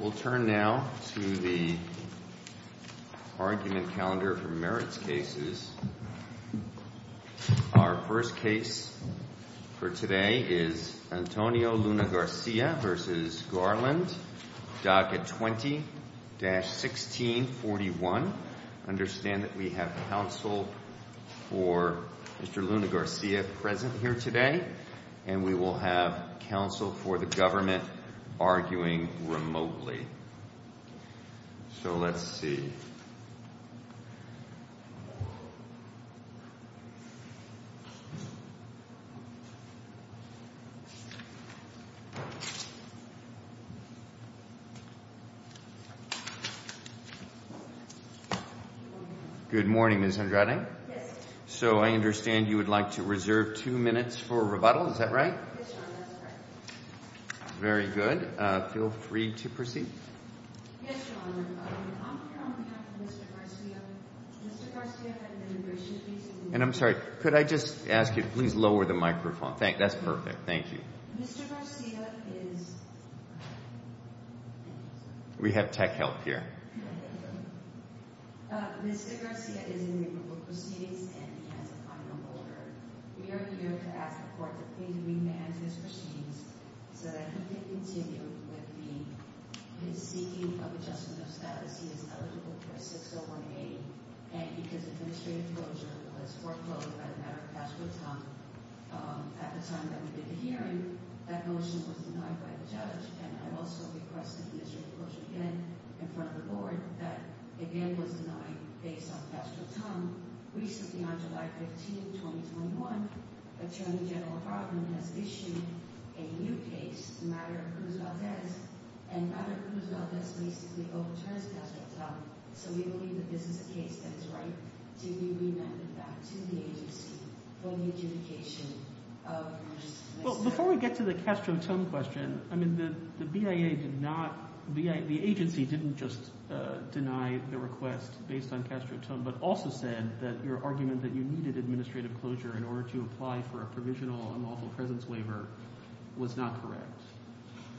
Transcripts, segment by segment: We'll turn now to the argument calendar for merits cases. Our first case for today is Antonio Luna Garcia v. Garland, docket 20-1641. Understand that we have counsel for Mr. Luna Garcia present here today, and we will have counsel for the government arguing remotely. So let's see. Good morning, Ms. Andrade. Yes. So I understand you would like to reserve two minutes for rebuttal, is that right? Yes, Your Honor. That's correct. Very good. Feel free to proceed. Yes, Your Honor. On behalf of Mr. Garcia, Mr. Garcia had an immigration case. And I'm sorry, could I just ask you to please lower the microphone? That's perfect. Thank you. Mr. Garcia is... We have tech help here. Mr. Garcia is in the approval proceedings and he has a final order. We are here to ask the court to please remand his proceedings so that he can continue with his seeking of adjustment of status. He is eligible for a 6018. And because administrative closure was foreclosed by the matter of Castro-Tongue at the time that we did the hearing, that motion was denied by the judge. And I also request administrative closure again in front of the board. That again was denied based on Castro-Tongue. Recently on July 15, 2021, Attorney General Hartman has issued a new case, the matter of Cruz Valdez, and the matter of Cruz Valdez basically overturns Castro-Tongue. So we believe that this is a case that is right to be remanded back to the agency for the adjudication of... Well, before we get to the Castro-Tongue question, I mean, the BIA did not... The agency didn't just deny the request based on Castro-Tongue, but also said that your argument that you needed administrative closure in order to apply for a provisional unlawful presence waiver was not correct.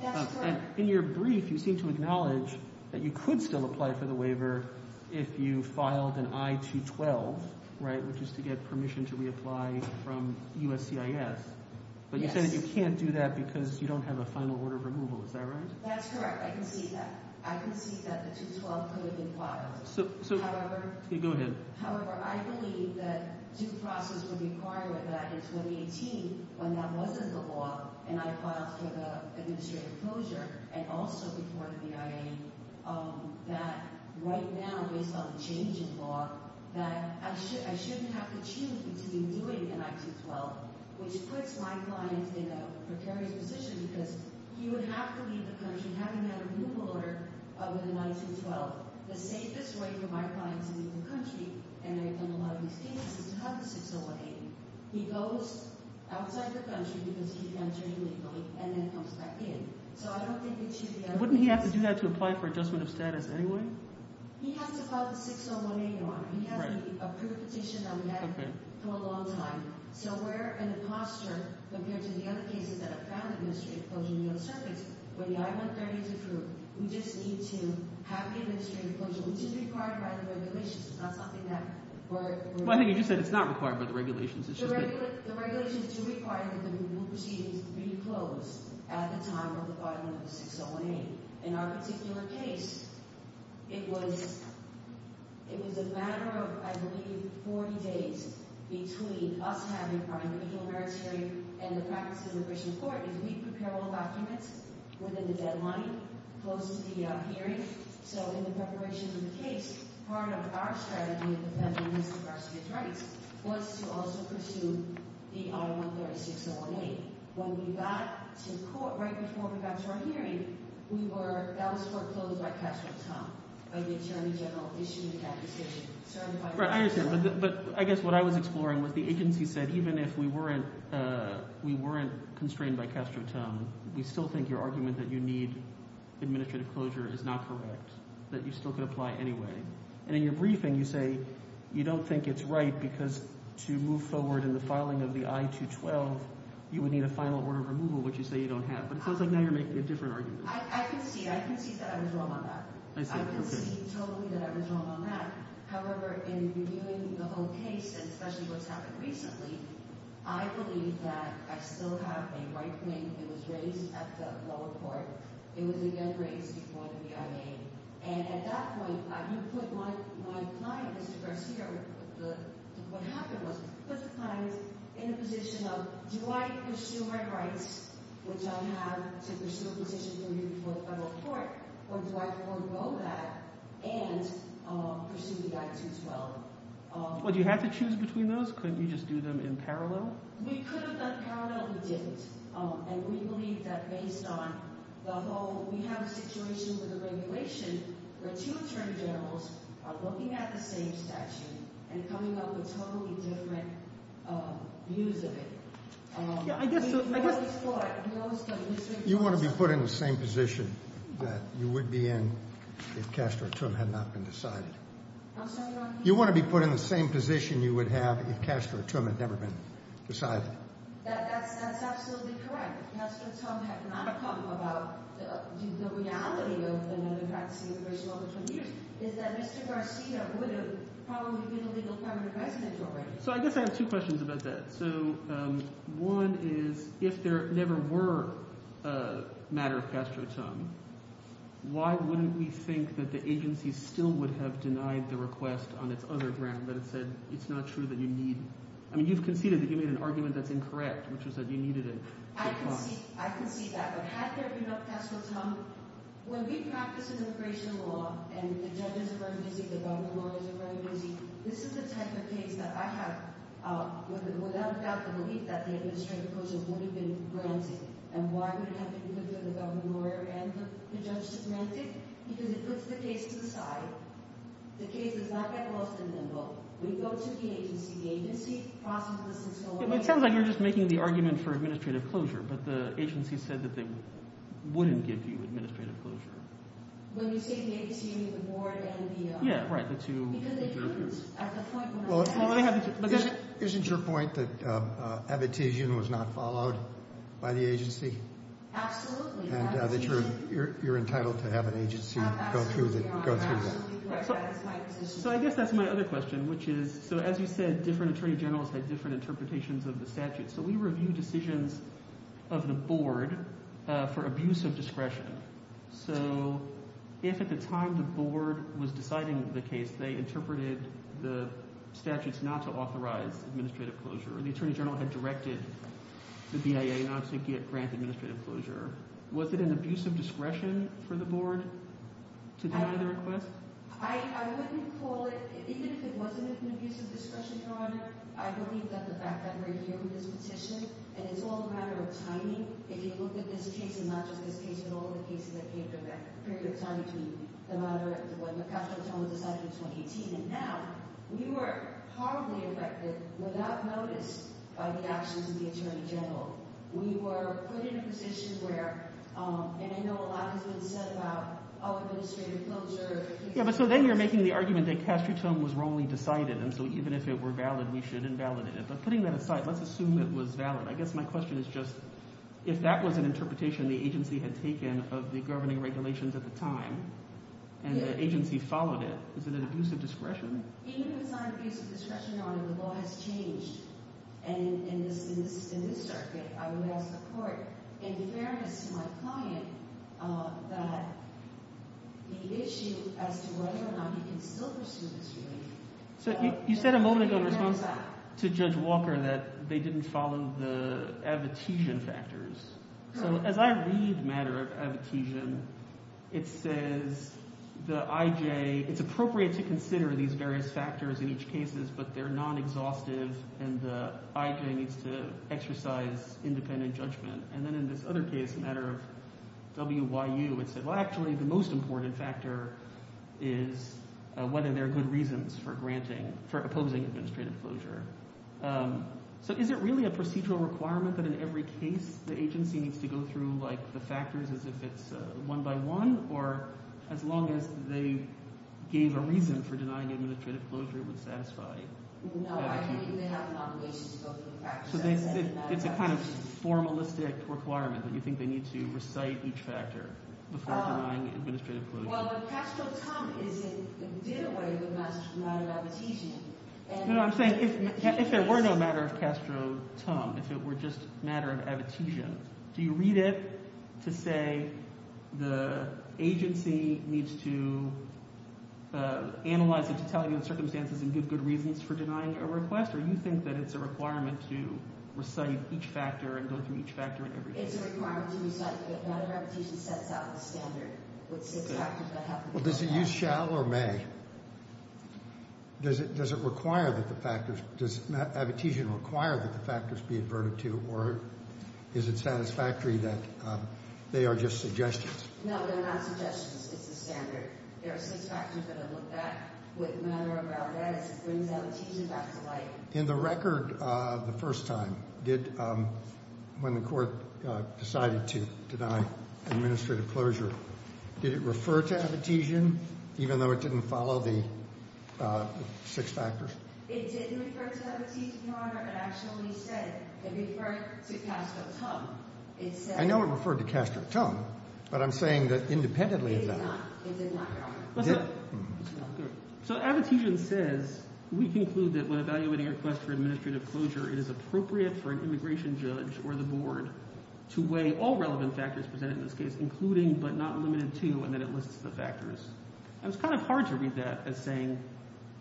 That's correct. In your brief, you seem to acknowledge that you could still apply for the waiver if you filed an I-212, right, which is to get permission to reapply from USCIS. Yes. But you said that you can't do that because you don't have a final order of removal. Is that right? That's correct. I can see that. I can see that the 212 could have been filed. However... Go ahead. However, I believe that due process would require that in 2018, when that wasn't the law, and I filed for the administrative closure, and also before the BIA, that right now, based on the change in law, that I shouldn't have to choose between doing an I-212, which puts my clients in a precarious position because he would have to leave the country having had a removal order of an I-212. The safest way for my clients to leave the country, and I've done a lot of these cases, is to have the 6018. He goes outside the country because he entered illegally and then comes back in. So I don't think it should be... Wouldn't he have to do that to apply for adjustment of status anyway? He has to file the 6018 one. He has the approved petition that we had for a long time. So we're in a posture, compared to the other cases that have found administrative closure in the other circuits, where the I-130 is approved, we just need to have the administrative closure, which is required by the regulations. It's not something that we're... Well, I think you just said it's not required by the regulations. The regulations do require that the proceedings be closed at the time of the filing of the 6018. In our particular case, it was... It was a matter of, I believe, 40 days between us having our individual merits hearing and the practice of immigration court, and we prepare all documents within the deadline close to the hearing. So in the preparation of the case, part of our strategy of defending Mr. Garcia's rights was to also pursue the I-130 6018. When we got to court, right before we got to our hearing, we were... That was foreclosed by Castro-Tum. By the Attorney General issuing that decision, certifying... Right, I understand. But I guess what I was exploring was the agency said, even if we weren't constrained by Castro-Tum, we still think your argument that you need administrative closure is not correct, that you still could apply anyway. And in your briefing, you say you don't think it's right because to move forward in the final order of removal, which you say you don't have. But it sounds like now you're making a different argument. I concede. I concede that I was wrong on that. I see. Okay. I concede totally that I was wrong on that. However, in reviewing the whole case, and especially what's happened recently, I believe that I still have a right claim. It was raised at the lower court. It was again raised before the BIA. And at that point, you put my client, Mr. Garcia... What happened was you put the client in a position of, do I pursue my rights, which I'll have to pursue a position before the federal court, or do I forego that and pursue the Act 212? Well, do you have to choose between those? Couldn't you just do them in parallel? We could have done parallel. We didn't. And we believe that based on the whole... We have a situation with the regulation where two attorney generals are looking at the same statute and coming up with totally different views of it. Yeah. I guess... You want to be put in the same position that you would be in if Castro-Trump had not been decided? I'm sorry, Your Honor? You want to be put in the same position you would have if Castro-Trump had never been decided? That's absolutely correct. Castro-Trump had not come about. The reality of another practicing immigration over 20 years is that Mr. Garcia would have probably been a legal permanent resident already. So I guess I have two questions about that. So one is, if there never were a matter of Castro-Trump, why wouldn't we think that the agency still would have denied the request on its other ground, that it said it's not true that you need... I mean, you've conceded that you made an argument that's incorrect, which is that you needed a... I conceded that. But had there been no Castro-Trump, when we practice immigration law and the judges are very busy, the government lawyers are very busy, this is the type of case that I have without a doubt the belief that the administrative closures would have been granted. And why would it have been good for the government lawyer and the judge to grant it? Because it puts the case to the side. The case does not get lost in the limbo. We go to the agency. The agency processes this and so on. It sounds like you're just making the argument for administrative closure, but the agency said that they wouldn't give you administrative closure. When you say the agency, you mean the board and the... Yeah, right. The two judges. Because they couldn't. At the point where... Isn't your point that amnesty was not followed by the agency? Absolutely. And that you're entitled to have an agency go through that. Absolutely. I absolutely do. That is my position. So I guess that's my other question, which is, so as you said, different attorney generals had different interpretations of the statute. So we review decisions of the board for abuse of discretion. So if at the time the board was deciding the case, they interpreted the statutes not to authorize administrative closure, or the attorney general had directed the BIA not to grant administrative closure, was it an abuse of discretion for the board to deny the request? I wouldn't call it... I believe that the fact that we're here with this petition, and it's all a matter of timing, if you look at this case, and not just this case, but all the cases that came from that period of time between the time when Castretone was decided in 2018 and now, we were horribly affected, without notice, by the actions of the attorney general. We were put in a position where, and I know a lot has been said about administrative closure... Yeah, but so then you're making the argument that Castretone was wrongly decided, and so even if it were valid, we should invalidate it. But putting that aside, let's assume it was valid. I guess my question is just, if that was an interpretation the agency had taken of the governing regulations at the time, and the agency followed it, is it an abuse of discretion? Even if it's not an abuse of discretion, Your Honor, the law has changed. And in this circuit, I would ask the court, in fairness to my client, that the issue as to whether or not you can still pursue this jury... So you said a moment ago in response to Judge Walker that they didn't follow the advocation factors. So as I read matter of advocation, it says the IJ, it's appropriate to consider these various factors in each cases, but they're non-exhaustive, and the IJ needs to exercise independent judgment. And then in this other case, a matter of WYU, it said, well, actually, the most important factor is whether there are good reasons for opposing administrative closure. So is it really a procedural requirement that in every case the agency needs to go through the factors as if it's one by one, or as long as they gave a reason for denying administrative closure, it would satisfy? No, I think they have an obligation to go through the factors. So it's a kind of formalistic requirement that you think they need to recite each factor before denying administrative closure. Well, but Castro-Tum is a did-away with matter of advocation. No, no, I'm saying if it were no matter of Castro-Tum, if it were just matter of advocation, do you read it to say the agency needs to analyze it to tell you the circumstances and give good reasons for denying a request, or do you think that it's a requirement to recite each factor and go through each factor in every case? It's a requirement to recite, but matter of advocation sets out the standard with six factors that have to go back. Well, does it use shall or may? Does it require that the factors, does advocation require that the factors be averted to, or is it satisfactory that they are just suggestions? No, they're not suggestions. It's the standard. There are six factors that are looked at. With matter of validation, it brings advocation back to life. In the record the first time, when the court decided to deny administrative closure, did it refer to Abtesian even though it didn't follow the six factors? It didn't refer to Abtesian, Your Honor. It actually said it referred to Castro-Tum. I know it referred to Castro-Tum, but I'm saying that independently of that. It did not, Your Honor. So Abtesian says, we conclude that when evaluating a request for administrative closure, it is appropriate for an immigration judge or the board to weigh all relevant factors presented in this case, including but not limited to, and then it lists the factors. It's kind of hard to read that as saying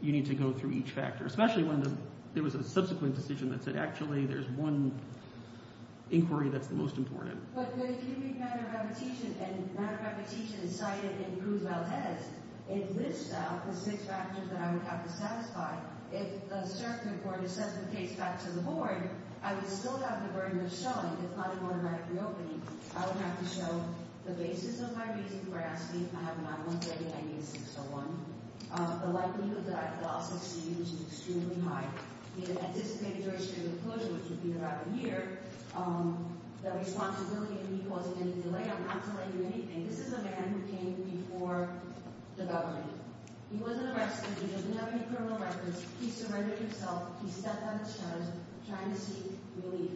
you need to go through each factor, especially when there was a subsequent decision that said actually there's one inquiry that's the most important. But if you read matter of Abtesian, and matter of Abtesian is cited in Cruz-Valdez, it lists out the six factors that I would have to satisfy. If the circuit court is sent the case back to the board, I would still have the burden of showing. It's not a one-night reopening. I would have to show the basis of my reason for asking if I have an on-month levy. I need a 601. The likelihood that I could also see, which is extremely high, the anticipated duration of closure, which would be about a year, the responsibility of me causing any delay on not delaying anything. This is a man who came before the government. He wasn't arrested. He doesn't have any criminal records. He surrendered himself. He stepped on his toes trying to seek relief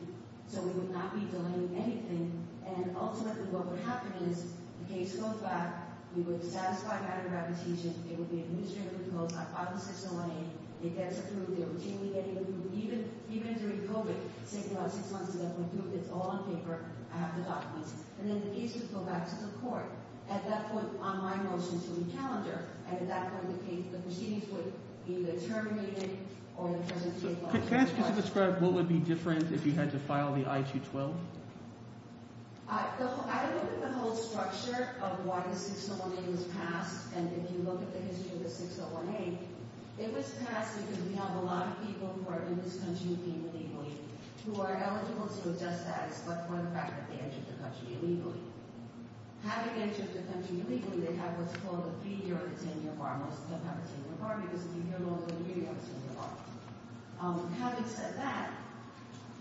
so we would not be delaying anything, and ultimately what would happen is the case goes back. We would satisfy matter of Abtesian. It would be administratively closed on 5 and 6 and 1A. They get through. They're routinely getting through. Even during COVID, say about six months ago, it's all on paper. I have the documents. And then the case would go back to the court. At that point, on my motion to re-calendar, and at that point, the proceedings would be either terminated or the presidency is lost. Can I ask you to describe what would be different if you had to file the I-212? I look at the whole structure of why the 601A was passed, and if you look at the history of the 601A, it was passed because we have a lot of people who are in this country illegally who are eligible to adjust status but for the fact that they entered the country illegally. Having entered the country illegally, they have what's called a three-year or a 10-year bar, most of them have a 10-year bar because if you get older, you're going to have a 10-year bar. Having said that,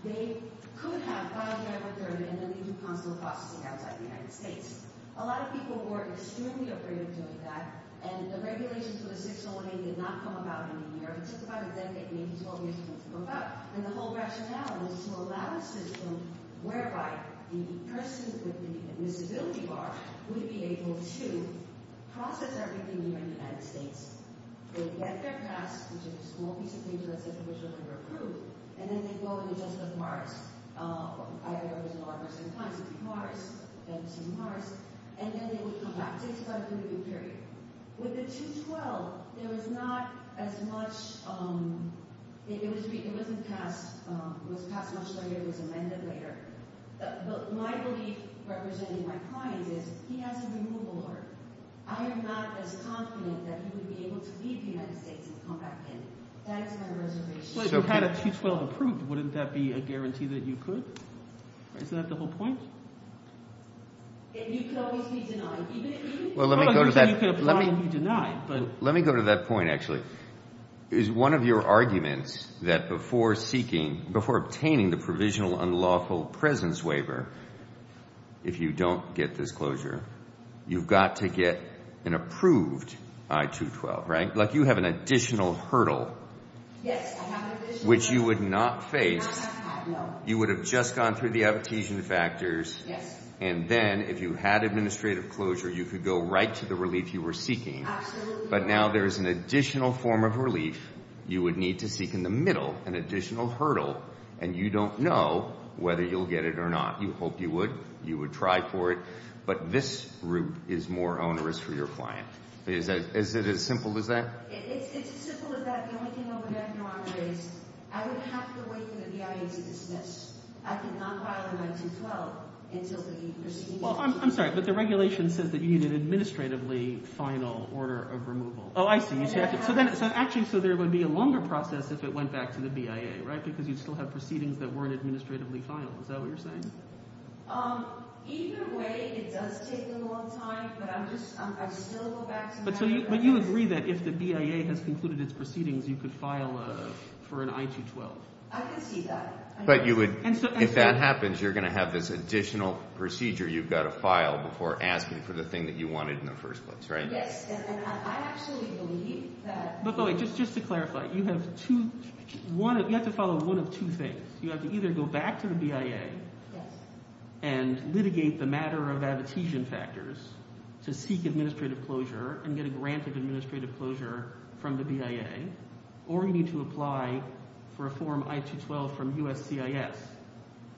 they could have filed their authority and then they do consular processing outside the United States. A lot of people were extremely afraid of doing that, and the regulations for the 601A did not come about in New York. It took about a decade, maybe 12 years for it to come about. And the whole rationale was to allow a system whereby the person with the admissibility bar would be able to process everything here in the United States. They would get their pass, which is a small piece of paper that said the person was going to be approved, and then they'd go and adjust the bars. Either it was a large person or a client, so it would be Mars, then it would be Mars, and then they would come back to it, so that would be a good period. With the 212, there was not as much, it wasn't passed, it was passed much later, it was amended later. But my belief, representing my clients, is he has a removal order. I am not as confident that he would be able to leave the United States and come back in. That is my reservation. But if you had a 212 approved, wouldn't that be a guarantee that you could? Isn't that the whole point? And you could always be denied. Well, let me go to that point, actually. Is one of your arguments that before obtaining the provisional unlawful presence waiver, if you don't get disclosure, you've got to get an approved I-212, right? Like you have an additional hurdle. Yes, I have an additional hurdle. Which you would not face. No, I have not, no. You would have just gone through the advocation factors. Yes. And then if you had administrative closure, you could go right to the relief you were seeking. Absolutely. But now there is an additional form of relief you would need to seek in the middle, an additional hurdle, and you don't know whether you'll get it or not. You hope you would. You would try for it. But this route is more onerous for your client. Is it as simple as that? It's as simple as that. The only thing I would add here, Andre, is I would have to wait for the BIA to dismiss. I could not file an I-212 until the proceedings. Well, I'm sorry, but the regulation says that you need an administratively final order of removal. Oh, I see. Actually, so there would be a longer process if it went back to the BIA, right, because you'd still have proceedings that weren't administratively final. Is that what you're saying? Either way, it does take a long time, but I would still go back to the BIA. But you agree that if the BIA has concluded its proceedings, you could file for an I-212. I can see that. But if that happens, you're going to have this additional procedure. You've got to file before asking for the thing that you wanted in the first place, right? Yes. And I actually believe that. But wait, just to clarify, you have to follow one of two things. You have to either go back to the BIA and litigate the matter of abstentiation factors to seek administrative closure and get a grant of administrative closure from the BIA, or you need to apply for a form I-212 from USCIS,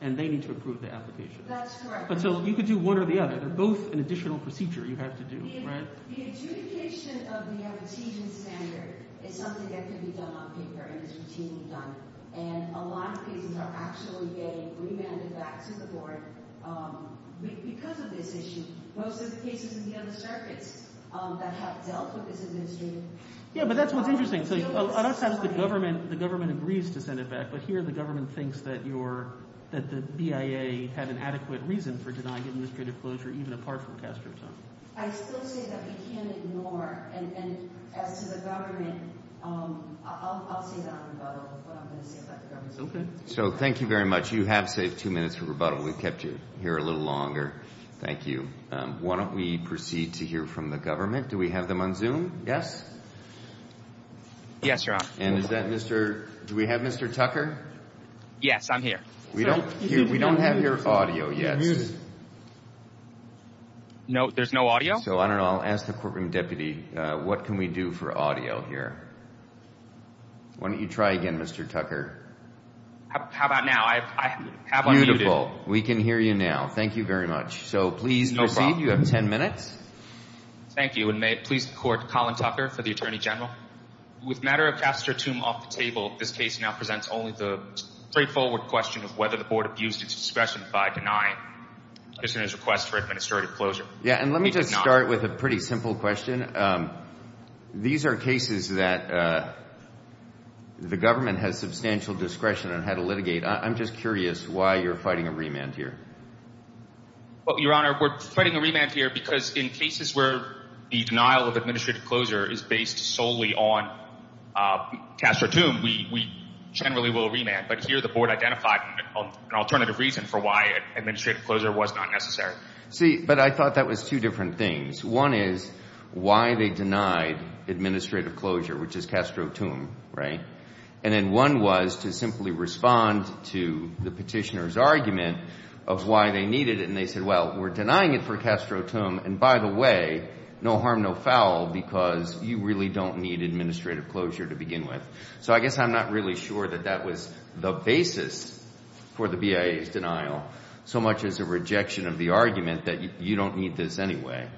and they need to approve the application. That's correct. So you could do one or the other. They're both an additional procedure you have to do, right? The adjudication of the abstention standard is something that can be done on paper and is routinely done, and a lot of cases are actually getting remanded back to the board because of this issue. Most of the cases in the other circuits that have dealt with this administrative issue. Yeah, but that's what's interesting. So I don't suppose the government agrees to send it back, but here the government thinks that the BIA had an adequate reason for denying administrative closure, even apart from Castro's own. I still say that we can't ignore. And as to the government, I'll say that on rebuttal, what I'm going to say about the government. So thank you very much. You have saved two minutes for rebuttal. We kept you here a little longer. Thank you. Why don't we proceed to hear from the government? Do we have them on Zoom? Yes? Yes, Your Honor. And is that Mr. Do we have Mr. Tucker? Yes, I'm here. We don't have your audio yet. No, there's no audio? So I don't know. I'll ask the courtroom deputy, what can we do for audio here? Why don't you try again, Mr. Tucker? How about now? I have unmuted. Beautiful. We can hear you now. Thank you very much. So please proceed. You have ten minutes. Thank you. And may it please the Court, Colin Tucker for the Attorney General. With the matter of Castro's tomb off the table, this case now presents only the straightforward question of whether the board abused its discretion by denying this witness' request for administrative closure. Yeah, and let me just start with a pretty simple question. These are cases that the government has substantial discretion on how to litigate. I'm just curious why you're fighting a remand here. Well, Your Honor, we're fighting a remand here because in cases where the denial of administrative closure is based solely on Castro's tomb, we generally will remand. But here the board identified an alternative reason for why administrative closure was not necessary. See, but I thought that was two different things. One is why they denied administrative closure, which is Castro's tomb, right? And then one was to simply respond to the petitioner's argument of why they needed it. And they said, well, we're denying it for Castro's tomb, and by the way, no harm, no foul, because you really don't need administrative closure to begin with. So I guess I'm not really sure that that was the basis for the BIA's denial so much as a rejection of the argument that you don't need this anyway.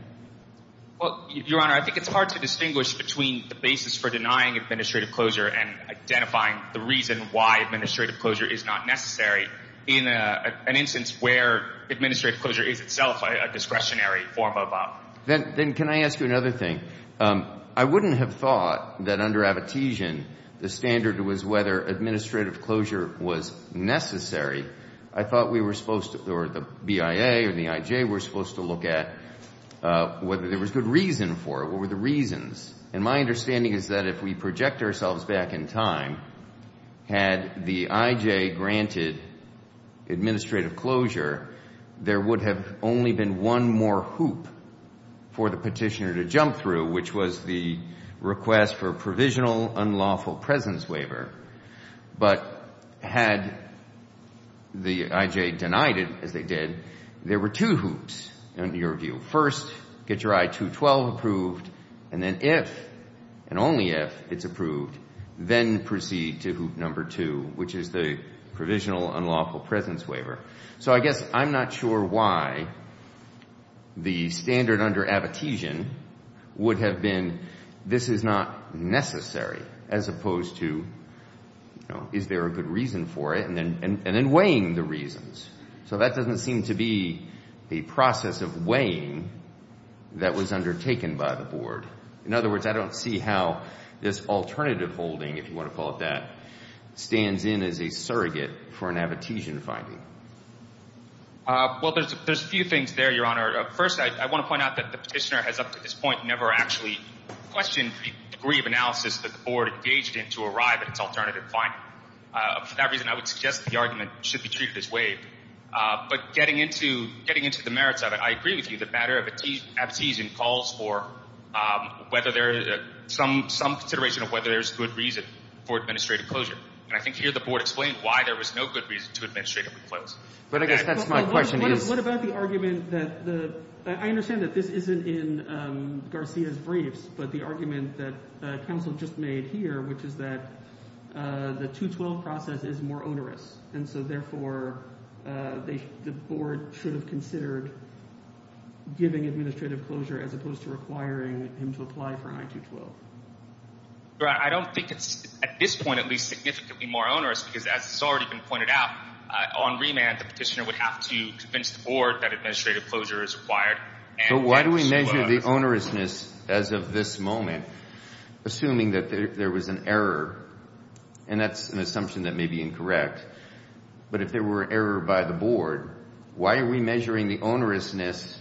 Well, Your Honor, I think it's hard to distinguish between the basis for denying administrative closure and identifying the reason why administrative closure is not necessary in an instance where administrative closure is itself a discretionary form of a… Then can I ask you another thing? I wouldn't have thought that under Abtesian the standard was whether administrative closure was necessary. I thought we were supposed to, or the BIA or the IJ were supposed to look at whether there was good reason for it. What were the reasons? And my understanding is that if we project ourselves back in time, had the IJ granted administrative closure, there would have only been one more hoop for the petitioner to jump through, which was the request for a provisional unlawful presence waiver. But had the IJ denied it, as they did, there were two hoops, in your view. First, get your I-212 approved, and then if, and only if, it's approved, then proceed to hoop number two, which is the provisional unlawful presence waiver. So I guess I'm not sure why the standard under Abtesian would have been, this is not necessary, as opposed to, you know, is there a good reason for it, and then weighing the reasons. So that doesn't seem to be a process of weighing that was undertaken by the Board. In other words, I don't see how this alternative holding, if you want to call it that, stands in as a surrogate for an Abtesian finding. Well, there's a few things there, Your Honor. First, I want to point out that the petitioner has up to this point never actually questioned the degree of analysis that the Board engaged in to arrive at its alternative finding. For that reason, I would suggest the argument should be treated as waived. But getting into the merits of it, I agree with you that the matter of Abtesian calls for some consideration of whether there's good reason for administrative closure. And I think here the Board explained why there was no good reason to administratively close. But I guess that's my question. What about the argument that the – I understand that this isn't in Garcia's briefs, but the argument that counsel just made here, which is that the 212 process is more onerous. And so therefore the Board should have considered giving administrative closure as opposed to requiring him to apply for an I-212. Your Honor, I don't think it's at this point at least significantly more onerous because, as has already been pointed out, on remand the petitioner would have to convince the Board that administrative closure is required. So why do we measure the onerousness as of this moment, assuming that there was an error? And that's an assumption that may be incorrect. But if there were error by the Board, why are we measuring the onerousness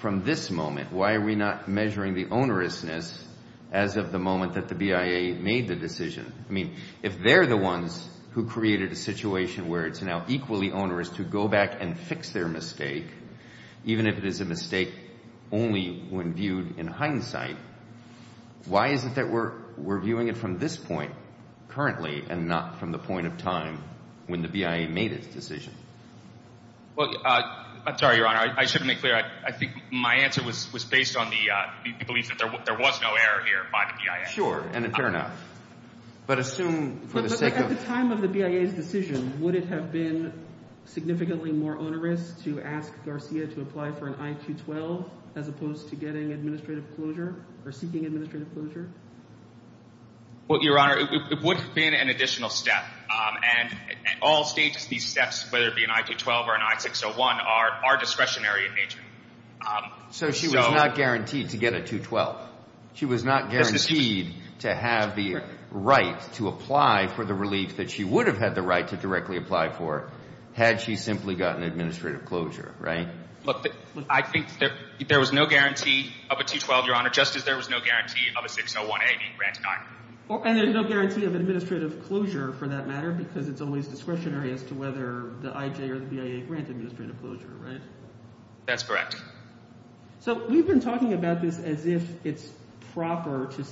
from this moment? Why are we not measuring the onerousness as of the moment that the BIA made the decision? I mean, if they're the ones who created a situation where it's now equally onerous to go back and fix their mistake, even if it is a mistake only when viewed in hindsight, why is it that we're viewing it from this point currently and not from the point of time when the BIA made its decision? Well, I'm sorry, Your Honor, I shouldn't make clear. I think my answer was based on the belief that there was no error here by the BIA. Sure, and fair enough. But assume for the sake of… And would it have been significantly more onerous to ask Garcia to apply for an I-212 as opposed to getting administrative closure or seeking administrative closure? Well, Your Honor, it would have been an additional step. And at all stages, these steps, whether it be an I-212 or an I-601, are discretionary in nature. So she was not guaranteed to get a 212. She was not guaranteed to have the right to apply for the relief that she would have had the right to directly apply for had she simply gotten administrative closure, right? Look, I think there was no guarantee of a 212, Your Honor, just as there was no guarantee of a 601A being granted either. And there's no guarantee of administrative closure for that matter because it's always discretionary as to whether the IJ or the BIA grant administrative closure, right? That's correct. So we've been talking about this as if it's proper to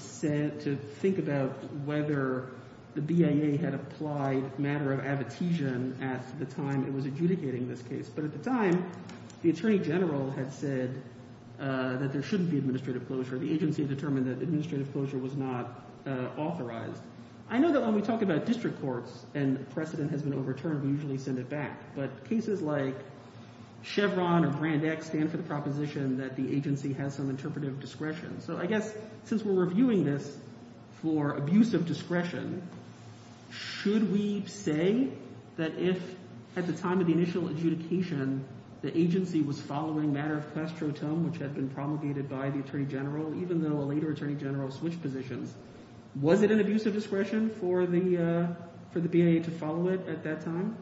think about whether the BIA had applied a matter of advocation at the time it was adjudicating this case. But at the time, the attorney general had said that there shouldn't be administrative closure. The agency had determined that administrative closure was not authorized. I know that when we talk about district courts and precedent has been overturned, we usually send it back. But cases like Chevron or Brand X stand for the proposition that the agency has some interpretive discretion. So I guess since we're reviewing this for abuse of discretion, should we say that if at the time of the initial adjudication, the agency was following a matter of clostrotome, which had been promulgated by the attorney general, even though a later attorney general switched positions, was it an abuse of discretion for the BIA to follow it at that time?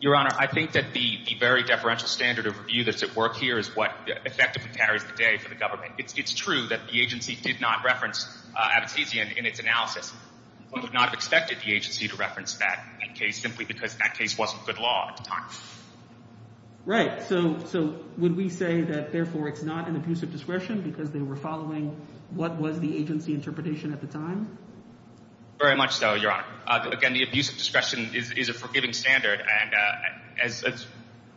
Your Honor, I think that the very deferential standard of review that's at work here is what effectively carries the day for the government. It's true that the agency did not reference anesthesia in its analysis. We would not have expected the agency to reference that case simply because that case wasn't good law at the time. Right. So would we say that, therefore, it's not an abuse of discretion because they were following what was the agency interpretation at the time? Very much so, Your Honor. Again, the abuse of discretion is a forgiving standard. As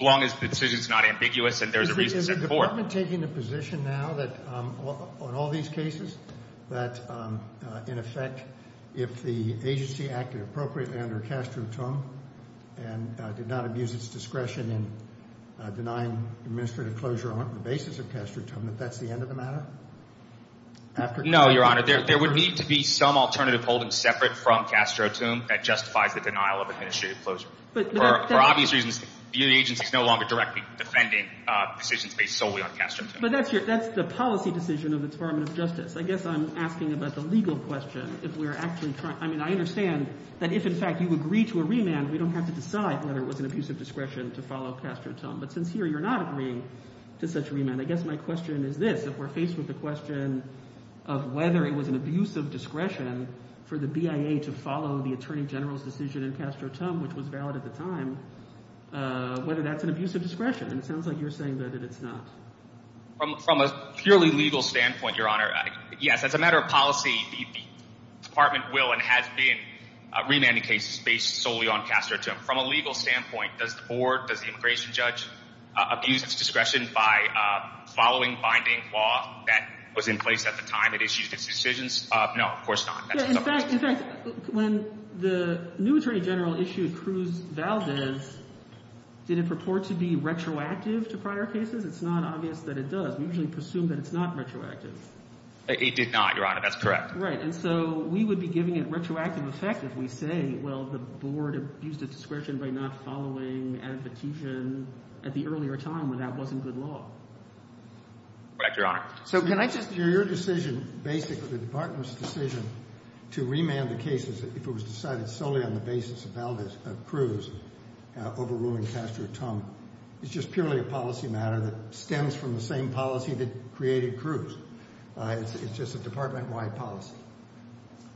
long as the decision is not ambiguous and there is a reason to send it forward. Is the department taking the position now that on all these cases that, in effect, if the agency acted appropriately under clostrotome and did not abuse its discretion in denying administrative closure on the basis of clostrotome, that that's the end of the matter? No, Your Honor. There would need to be some alternative holding separate from clostrotome that justifies the denial of administrative closure. For obvious reasons, the agency is no longer directly defending decisions based solely on clostrotome. But that's the policy decision of the Department of Justice. I guess I'm asking about the legal question. I mean, I understand that if, in fact, you agree to a remand, we don't have to decide whether it was an abuse of discretion to follow clostrotome. But since here you're not agreeing to such remand, I guess my question is this. We're faced with the question of whether it was an abuse of discretion for the BIA to follow the attorney general's decision in clostrotome, which was valid at the time, whether that's an abuse of discretion. And it sounds like you're saying that it's not. From a purely legal standpoint, Your Honor, yes, as a matter of policy, the department will and has been remanding cases based solely on clostrotome. From a legal standpoint, does the board, does the immigration judge abuse its discretion by following binding law that was in place at the time it issued its decisions? No, of course not. In fact, when the new attorney general issued Cruz-Valdez, did it purport to be retroactive to prior cases? It's not obvious that it does. We usually presume that it's not retroactive. It did not, Your Honor. That's correct. And so we would be giving it retroactive effect if we say, well, the board abused its discretion by not following advocation at the earlier time when that wasn't good law. Correct, Your Honor. So can I just— Your decision, basically, the department's decision to remand the cases if it was decided solely on the basis of Cruz overruling clostrotome, is just purely a policy matter that stems from the same policy that created Cruz. It's just a department-wide policy.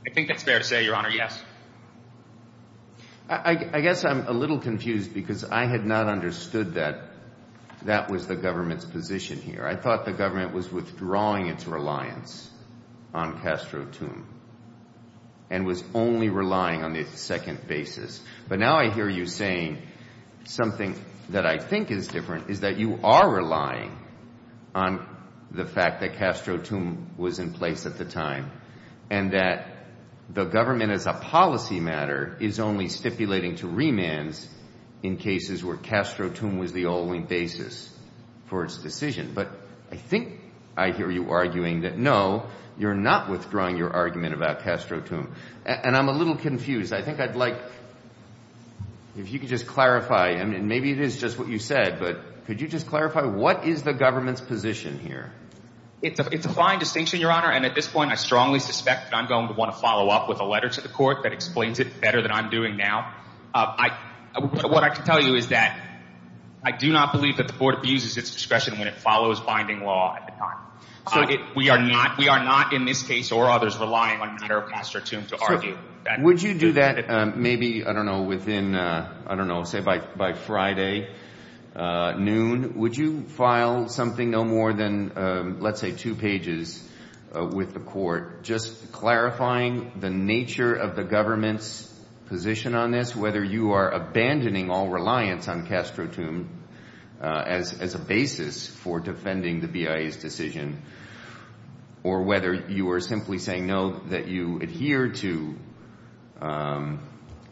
I think that's fair to say, Your Honor, yes. I guess I'm a little confused because I had not understood that that was the government's position here. I thought the government was withdrawing its reliance on clostrotome and was only relying on the second basis. But now I hear you saying something that I think is different, is that you are relying on the fact that clostrotome was in place at the time and that the government as a policy matter is only stipulating to remands in cases where clostrotome was the only basis for its decision. But I think I hear you arguing that, no, you're not withdrawing your argument about clostrotome. And I'm a little confused. I think I'd like if you could just clarify, and maybe it is just what you said, but could you just clarify what is the government's position here? It's a fine distinction, Your Honor, and at this point I strongly suspect that I'm going to want to follow up with a letter to the court that explains it better than I'm doing now. What I can tell you is that I do not believe that the board abuses its discretion when it follows binding law at the time. We are not in this case or others relying on matter of clostrotome to argue. Would you do that maybe, I don't know, within – I don't know, say by Friday noon? Would you file something no more than let's say two pages with the court just clarifying the nature of the government's position on this, whether you are abandoning all reliance on clostrotome as a basis for defending the BIA's decision or whether you are simply saying no, that you adhere to –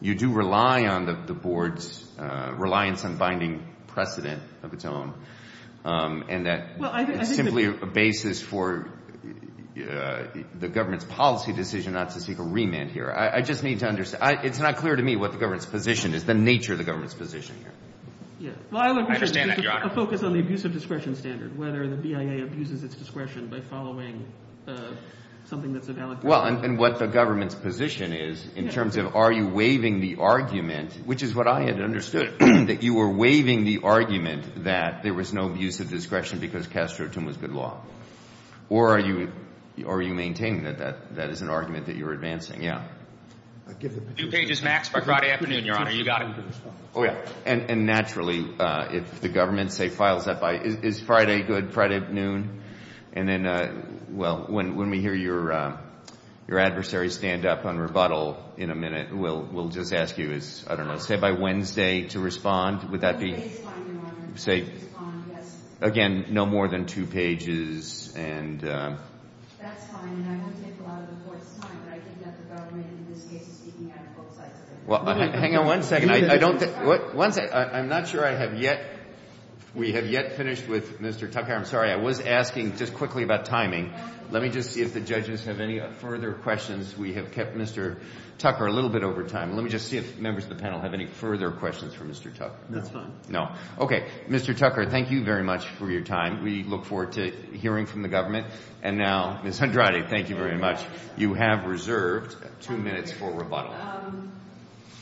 you do rely on the board's reliance on binding precedent of its own and that it's simply a basis for the government's policy decision not to seek a remand here. I just need to understand. It's not clear to me what the government's position is, the nature of the government's position here. I understand that, Your Honor. A focus on the abuse of discretion standard, whether the BIA abuses its discretion by following something that's a valid – Well, and what the government's position is in terms of are you waiving the argument, which is what I had understood, that you were waiving the argument that there was no abuse of discretion because clostrotome was good law or are you maintaining that that is an argument that you're advancing? Yeah. Two pages max by Friday afternoon, Your Honor. You got it. Oh, yeah. And naturally, if the government, say, files that by – is Friday good, Friday at noon? And then, well, when we hear your adversary stand up on rebuttal in a minute, we'll just ask you, I don't know, say by Wednesday to respond. Would that be – One page is fine, Your Honor, to respond, yes. Again, no more than two pages and – That's fine, and I won't take a lot of the court's time, but I think that the government in this case is speaking out of folks' eyes. Hang on one second. I don't – I'm not sure I have yet – we have yet finished with Mr. Tucker. I'm sorry. I was asking just quickly about timing. Let me just see if the judges have any further questions. We have kept Mr. Tucker a little bit over time. Let me just see if members of the panel have any further questions for Mr. Tucker. No. That's fine. No. Okay. Mr. Tucker, thank you very much for your time. We look forward to hearing from the government. And now, Ms. Andrade, thank you very much. You have reserved two minutes for rebuttal.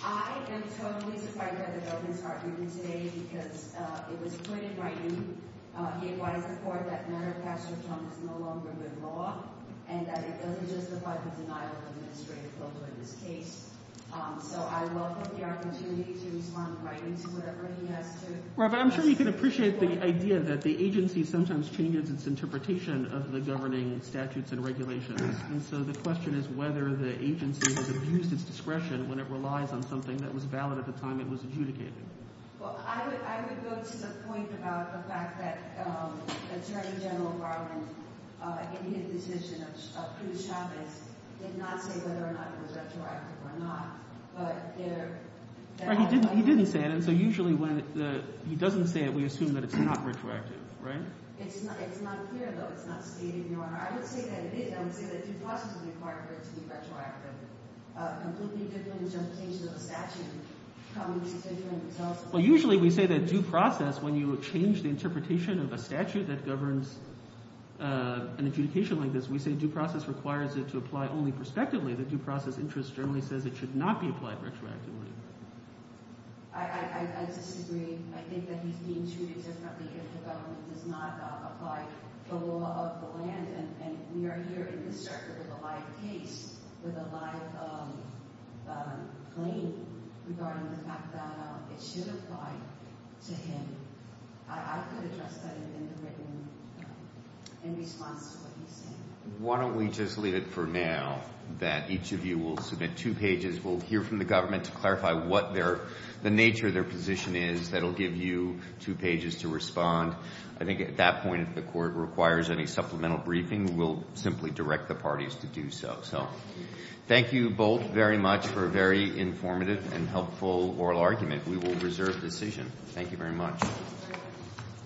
I am totally surprised by the government's argument today because it was put in writing. He advised the court that murder of Pastor Trump is no longer good law and that it doesn't justify the denial of administrative authority in this case. So I welcome the opportunity to respond right into whatever he has to. Robert, I'm sure you can appreciate the idea that the agency sometimes changes its interpretation of the governing statutes and regulations. And so the question is whether the agency has abused its discretion when it relies on something that was valid at the time it was adjudicated. Well, I would go to the point about the fact that Attorney General Garland, in his decision of Cruz Chavez, did not say whether or not it was retroactive or not. But there— He didn't say it. And so usually when he doesn't say it, we assume that it's not retroactive, right? It's not clear, though. It's not stated, Your Honor. I would say that it is. I would say that due process is required for it to be retroactive. A completely different interpretation of a statute comes with different results. Well, usually we say that due process, when you change the interpretation of a statute that governs an adjudication like this, we say due process requires it to apply only prospectively. The due process interest generally says it should not be applied retroactively. I disagree. I think that he's being treated differently if the government does not apply the law of the land. And we are here in this circuit with a live case, with a live claim regarding the fact that it should apply to him. I could address that in the written—in response to what he's saying. Why don't we just leave it for now, that each of you will submit two pages. We'll hear from the government to clarify what their—the nature of their position is. That will give you two pages to respond. I think at that point, if the Court requires any supplemental briefing, we'll simply direct the parties to do so. So thank you both very much for a very informative and helpful oral argument. We will reserve decision. Thank you very much.